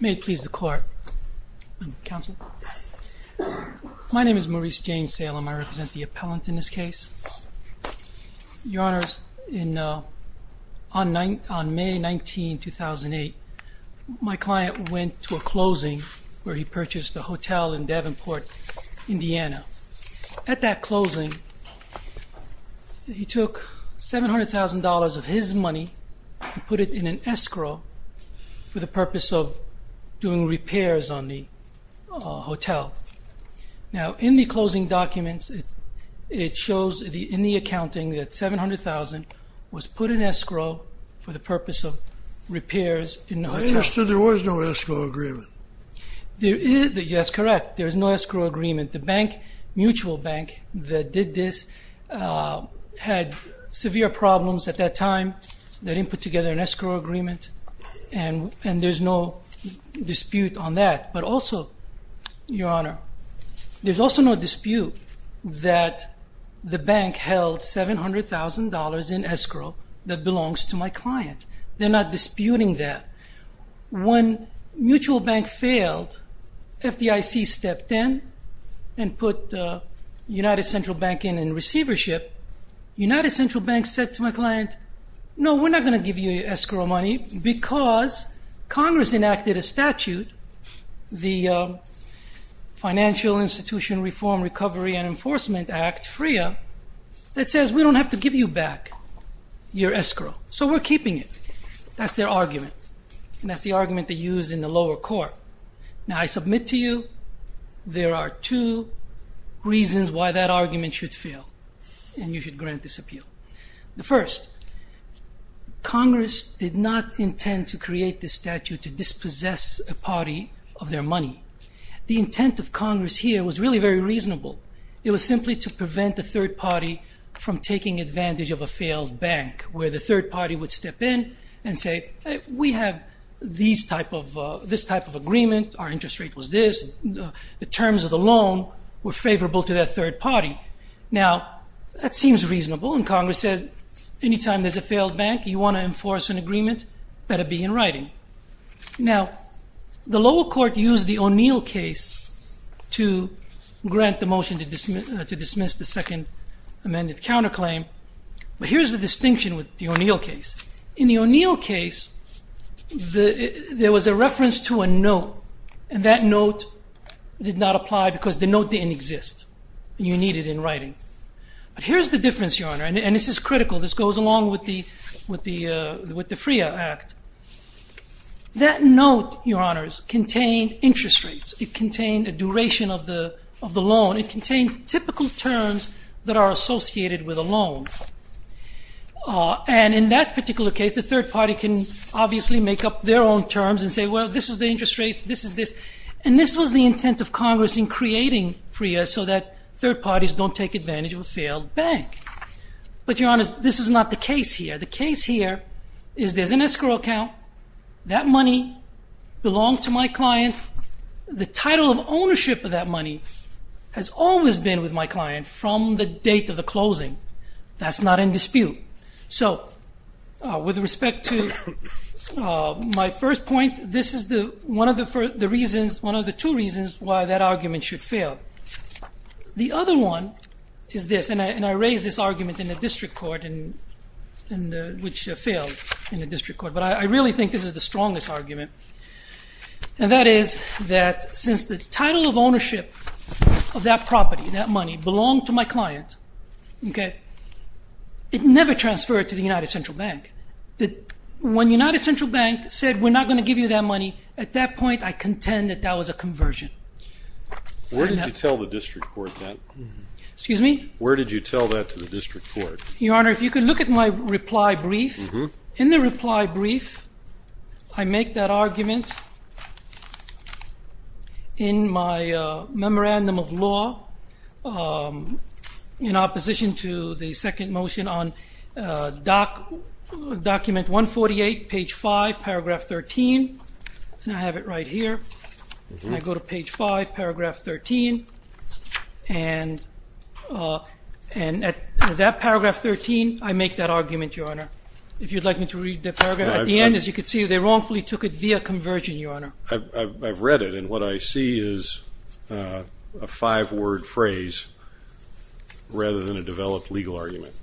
May it please the court. My name is Maurice James Salem. I represent the appellant in this case. Your Honor, on May 19, 2008, my client went to a closing where he purchased a hotel in Davenport, Indiana. At that closing, he put it in an escrow for the purpose of doing repairs on the hotel. Now in the closing documents, it shows in the accounting that $700,000 was put in escrow for the purpose of repairs in the hotel. I understood there was no escrow agreement. Yes, correct. There was no escrow agreement. The bank, Mutual Bank, that did this, had severe problems at that time. They didn't put together an escrow agreement and there's no dispute on that. But also, Your Honor, there's also no dispute that the bank held $700,000 in escrow that belongs to my client. They're not disputing that. When Mutual Bank failed, FDIC stepped in and put United Central Bank in and receivership, United Central Bank said to my client, no, we're not going to give you your escrow money because Congress enacted a statute, the Financial Institution Reform, Recovery, and Enforcement Act, FRIA, that says we don't have to give you back your escrow. So we're keeping it. That's their argument and that's the argument they used in the lower court. Now I submit to you there are two reasons why that argument should fail and you should grant this appeal. The first, Congress did not intend to create this statute to dispossess a party of their money. The intent of Congress here was really very reasonable. It was simply to prevent the third party from taking advantage of a failed bank where the third party would step in and say, we have this type of interest. The terms of the loan were favorable to that third party. Now that seems reasonable and Congress said, anytime there's a failed bank, you want to enforce an agreement, better be in writing. Now the lower court used the O'Neill case to grant the motion to dismiss the second amended counterclaim, but here's the distinction with the O'Neill case. In the O'Neill case, there was a reference to a note and that note did not apply because the note didn't exist. You need it in writing. But here's the difference, Your Honor, and this is critical. This goes along with the FREA Act. That note, Your Honors, contained interest rates. It contained a duration of the loan. It contained typical terms that are associated with a loan. And in that obviously make up their own terms and say, well, this is the interest rates, this is this. And this was the intent of Congress in creating FREA so that third parties don't take advantage of a failed bank. But Your Honors, this is not the case here. The case here is there's an escrow account. That money belongs to my client. The title of ownership of that money has always been with my client from the date of the closing. That's not in dispute. So with respect to my first point, this is the one of the reasons, one of the two reasons, why that argument should fail. The other one is this, and I raised this argument in the district court, which failed in the district court, but I really think this is the strongest argument. And that is that since the title of ownership of that property, that money, belonged to my client, okay, it never transferred to the United Central Bank. When United Central Bank said we're not going to give you that money, at that point I contend that that was a conversion. Where did you tell the district court that? Excuse me? Where did you tell that to the district court? Your Honor, if you could look at my reply brief. In the reply brief, I make that argument, Your Honor. If you'd like me to read the paragraph at the end, as you can see, they wrongfully took it via conversion, Your Honor. I've read it and what I see is a five-word phrase, rather than a developed legal argument.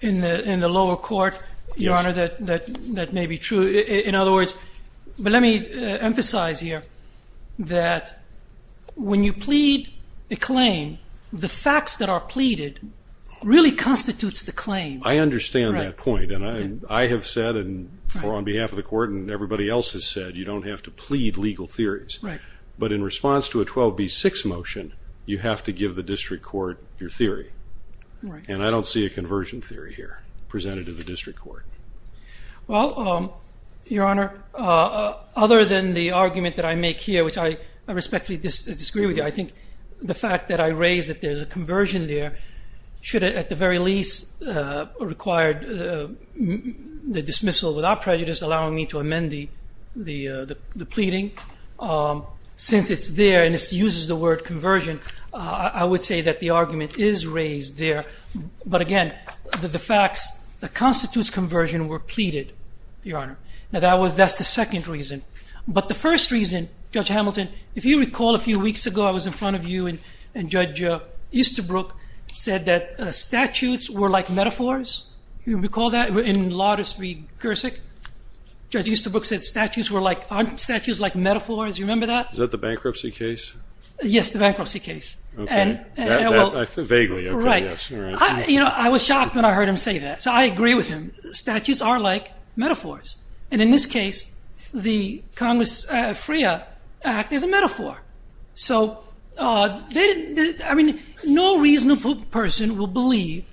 In the lower court, Your Honor, that may be true. In other words, but let me emphasize here, that when you plead a claim, the facts that are pleaded really constitutes the claim. I understand that point, and I have said, and on behalf of the court, and everybody else has said, you don't have to plead legal theories. But in response to a 12b6 motion, you have to give the district court your theory. And I don't see a conversion theory here presented to the district court. Well, Your Honor, other than the argument that I make here, which I respectfully disagree with you, I think the fact that I raise that there's a conversion there should, at the very least, require the dismissal without prejudice, allowing me to amend the pleading. Since it's there and it uses the word conversion, I would say that the argument is raised there. But again, the facts that constitutes conversion were pleaded, Your Honor. Now, that's the second reason. But the first reason, Judge Hamilton, if you recall a few weeks ago, I was in front of you and Judge Easterbrook said that statutes were like metaphors. Do you recall that? In Lawdus v. Gersick, Judge Easterbrook said statutes were like, aren't statutes like metaphors? You remember that? Is that the bankruptcy case? Yes, the bankruptcy case. Vaguely, yes. I was shocked when I heard him say that. So I agree with him. Statutes are like metaphors. And in this case, the Congress FREA Act is a metaphor. So, I mean, no reasonable person will believe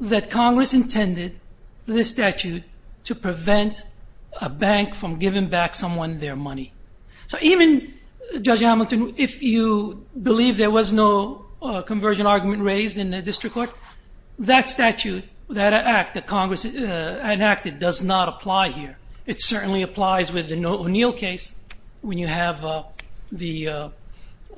that Congress intended this statute to prevent a bank from giving back someone their money. So even, Judge Hamilton, if you believe there was no conversion argument raised in the district court, that statute, that act that Congress enacted does not apply here. It certainly applies with the O'Neill case when you have a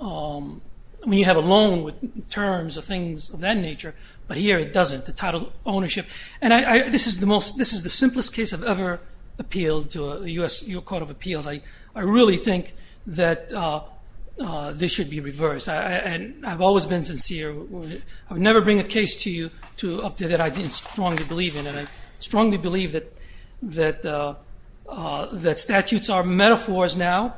loan with terms of things of that nature. But here it doesn't, the title ownership. And this is the simplest case I've ever appealed to a U.S. Court of Appeals. I really think that this should be reversed. And I've always been sincere. I would never bring a case to you that I didn't strongly believe in. And I strongly believe that statutes are metaphors now.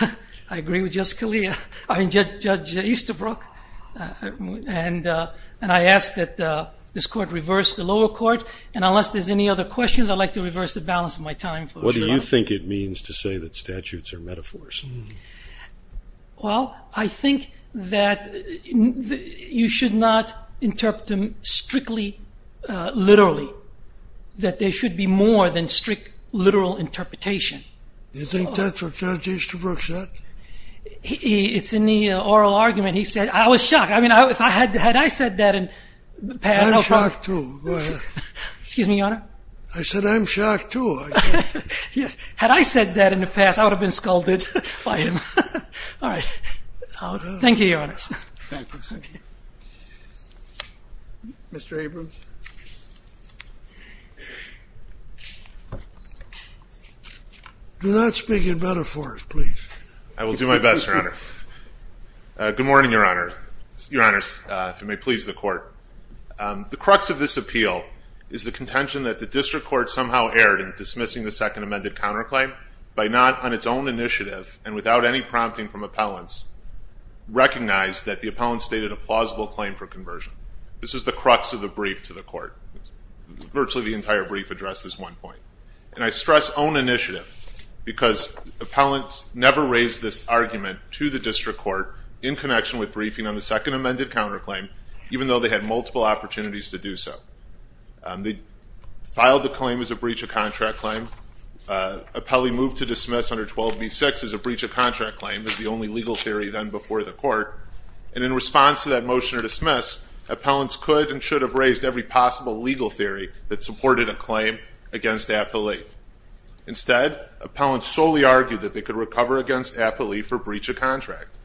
I agree with Judge Easterbrook. And I ask that this court reverse the lower court. And unless there's any other questions, I'd like to reverse the balance of my time. What do you think it means to say that statutes are metaphors? Well, I think that you should not interpret them strictly, literally. That there should be more than strict literal interpretation. You think that's what Judge Easterbrook said? It's in the oral argument. He said, I was shocked. I mean, if I had, had I said that in the past... I'm shocked too. Excuse me, Your Honor? I said I'm scalded by him. All right. Thank you, Your Honors. Mr. Abrams. Do not speak in metaphors, please. I will do my best, Your Honor. Good morning, Your Honor. Your Honors, if it may please the court. The crux of this appeal is the contention that the district court somehow erred in dismissing the second amended counterclaim by not, on its own initiative, and without any prompting from appellants, recognized that the appellant stated a plausible claim for conversion. This is the crux of the brief to the court. Virtually the entire brief addressed this one point. And I stress own initiative because appellants never raised this argument to the district court in connection with briefing on the second amended counterclaim, even though they had multiple opportunities to do so. They filed the claim as a breach of contract claim. Appellee moved to dismiss under 12b-6 as a breach of contract claim as the only legal theory done before the court. And in response to that motion to dismiss, appellants could and should have raised every possible legal theory that supported a claim against appellee. Instead, appellants solely argued that they could recover against appellee for breach of contract.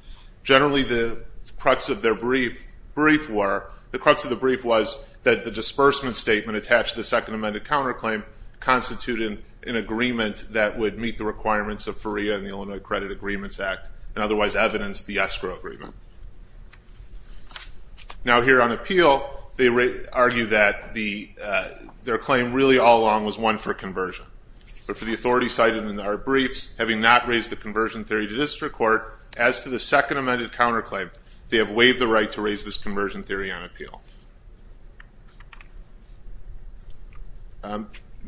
Generally the crux of their brief, brief reimbursement statement attached to the second amended counterclaim constituted an agreement that would meet the requirements of FERIA and the Illinois Credit Agreements Act, and otherwise evidence the escrow agreement. Now here on appeal, they argue that their claim really all along was one for conversion. But for the authority cited in our briefs, having not raised the conversion theory to district court, as to the second amended counterclaim, they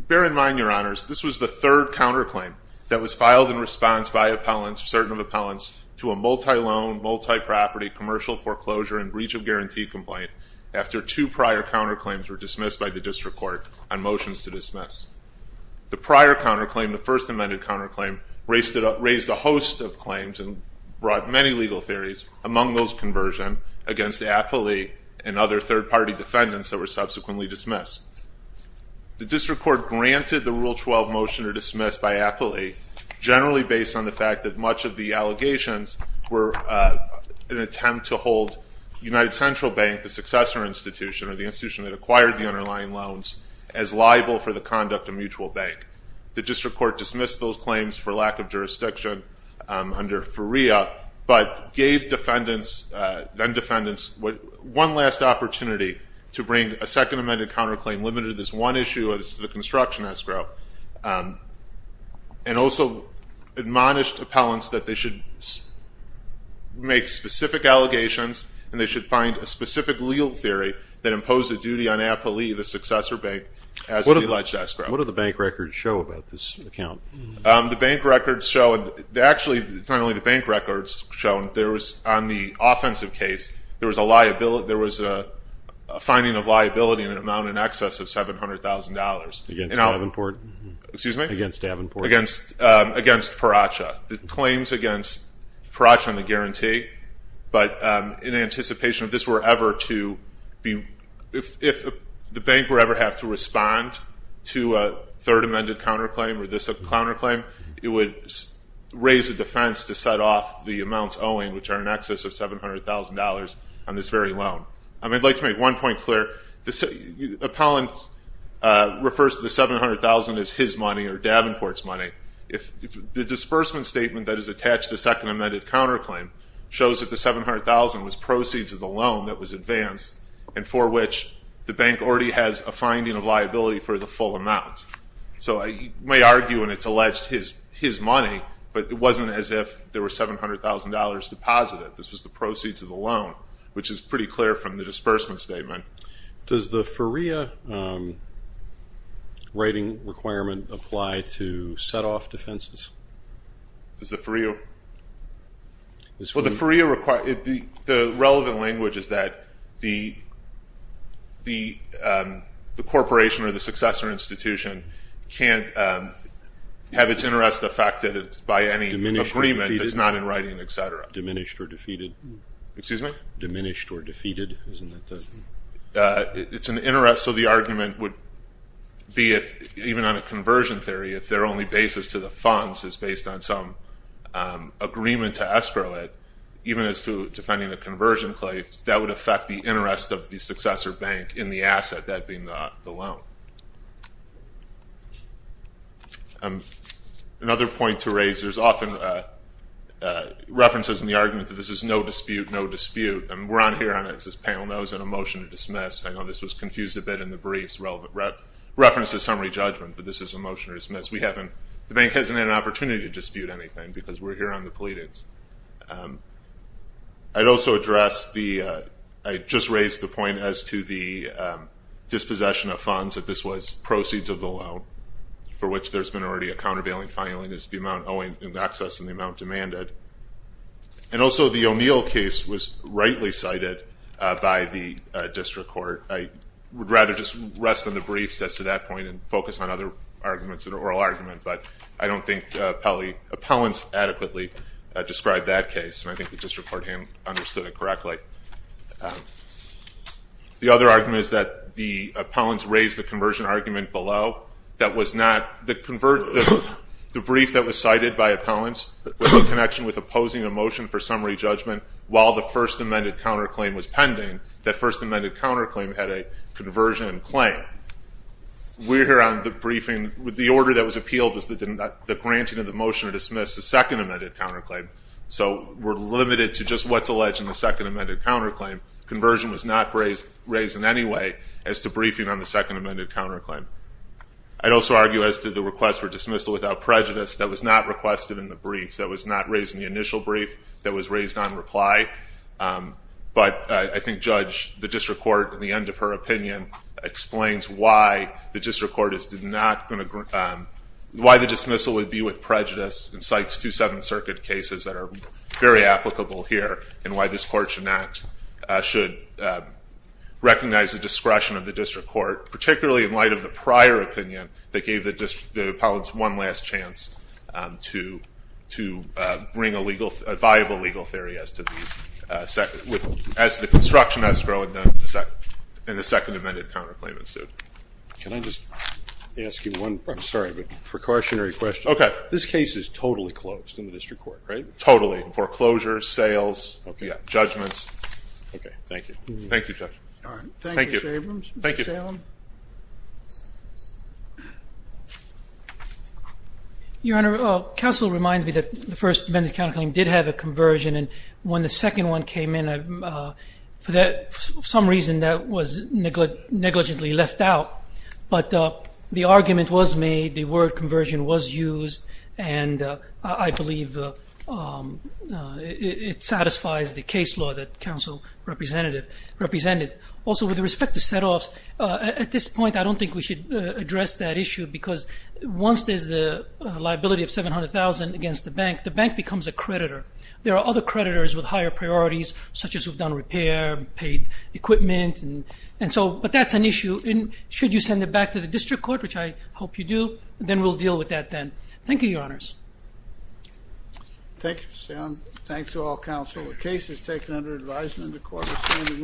bear in mind, your honors, this was the third counterclaim that was filed in response by appellants, certain of appellants, to a multi-loan, multi-property, commercial foreclosure, and breach of guarantee complaint after two prior counterclaims were dismissed by the district court on motions to dismiss. The prior counterclaim, the first amended counterclaim, raised a host of claims and brought many legal theories, among those conversion against appellee and other third-party defendants that were subsequently dismissed. The district court granted the Rule 12 motion to dismiss by appellee, generally based on the fact that much of the allegations were an attempt to hold United Central Bank, the successor institution, or the institution that acquired the underlying loans, as liable for the conduct of mutual bank. The district court dismissed those claims for lack of jurisdiction under FERIA, but gave defendants, then one last opportunity to bring a second amended counterclaim limited to this one issue as the construction escrow, and also admonished appellants that they should make specific allegations, and they should find a specific legal theory that imposed a duty on appellee, the successor bank, as the alleged escrow. What do the bank records show about this account? The bank records show, and actually, it's not only the bank records shown, there was, on the offensive case, there was a finding of liability in an amount in excess of $700,000. Against Davenport? Excuse me? Against Davenport. Against Pratchett. The claims against Pratchett on the guarantee, but in anticipation of this were ever to be, if the bank were ever have to respond to a third amended counterclaim, or this counterclaim, it would raise a defense to $700,000 on this very loan. I'd like to make one point clear. Appellant refers to the $700,000 as his money, or Davenport's money. The disbursement statement that is attached to the second amended counterclaim shows that the $700,000 was proceeds of the loan that was advanced, and for which the bank already has a finding of liability for the full amount. So I may argue, and it's alleged his money, but it wasn't as if there were $700,000 deposited. This was the proceeds of the loan, which is pretty clear from the disbursement statement. Does the FERIA writing requirement apply to set-off defenses? Does the FERIA? The relevant language is that the corporation or the successor institution can't have its interest affected by any agreement that's not in writing, etc. Diminished or defeated? It's an interest, so the argument would be, even on a conversion theory, if their only basis to the funds is based on some agreement to escrow it, even as to defending a conversion claim, that would affect the interest of the successor bank in the asset, that being the loan. Another point to raise, there's often references in the argument that this is no dispute, no dispute, and we're on here on, as this panel knows, on a motion to dismiss. I know this was confused a bit in the briefs, relevant references to summary judgment, but this is a motion to dismiss. We haven't, the bank hasn't had an opportunity to dispute anything because we're here on the pleadings. I'd also address the, I just raised the point as to the dispossession of funds, that this was proceeds of the loan, for which there's been already a countervailing filing, is the amount in excess and the amount demanded. And also the O'Neill case was rightly cited by the district court. I would rather just rest on the briefs as to that point and focus on other arguments, an oral argument, but I don't think appellants adequately described that case, and I think the district court understood it correctly. The other argument is that the appellants raised the conversion argument below. That was not, the brief that was provided by appellants, in connection with opposing a motion for summary judgment, while the first amended counterclaim was pending, that first amended counterclaim had a conversion claim. We're here on the briefing, the order that was appealed was the granting of the motion to dismiss the second amended counterclaim. So we're limited to just what's alleged in the second amended counterclaim. Conversion was not raised in any way as to briefing on the second amended counterclaim. I'd also argue as to the request for dismissal without prejudice that was not requested in the brief, that was not raised in the initial brief, that was raised on reply. But I think Judge, the district court, in the end of her opinion, explains why the district court is not going to, why the dismissal would be with prejudice, and cites two Seventh Circuit cases that are very applicable here, and why this court should not, should recognize the discretion of the district court, particularly in light of the prior opinion, that gave the district, the appellants one last chance to bring a legal, a viable legal theory as to the second, as the construction has grown in the second amended counterclaim. Can I just ask you one, I'm sorry, but precautionary question. Okay. This case is totally closed in the district court, right? Totally. Foreclosures, sales, judgments. Okay, thank you. Thank you, Judge. All right. Thank you. Thank you, Mr. Abrams. Thank you, Mr. Salem. Your Honor, counsel reminds me that the first amended counterclaim did have a conversion, and when the second one came in, for some reason, that was negligently left out. But the argument was made, the word conversion was used, and I believe it satisfies the case law that counsel represented. Also, with respect to setoffs, at this point, I don't think we should address that issue, because once there's the liability of $700,000 against the bank, the bank becomes a creditor. There are other creditors with higher priorities, such as who've done repair, paid equipment, and so, but that's an issue. Should you send it back to the district court, which I hope you do, then we'll deal with that then. Thank you, Your Honors. Thank you, Mr. Salem. Thanks to all counsel. The case is taken under advisement of the Court of Standing Recess.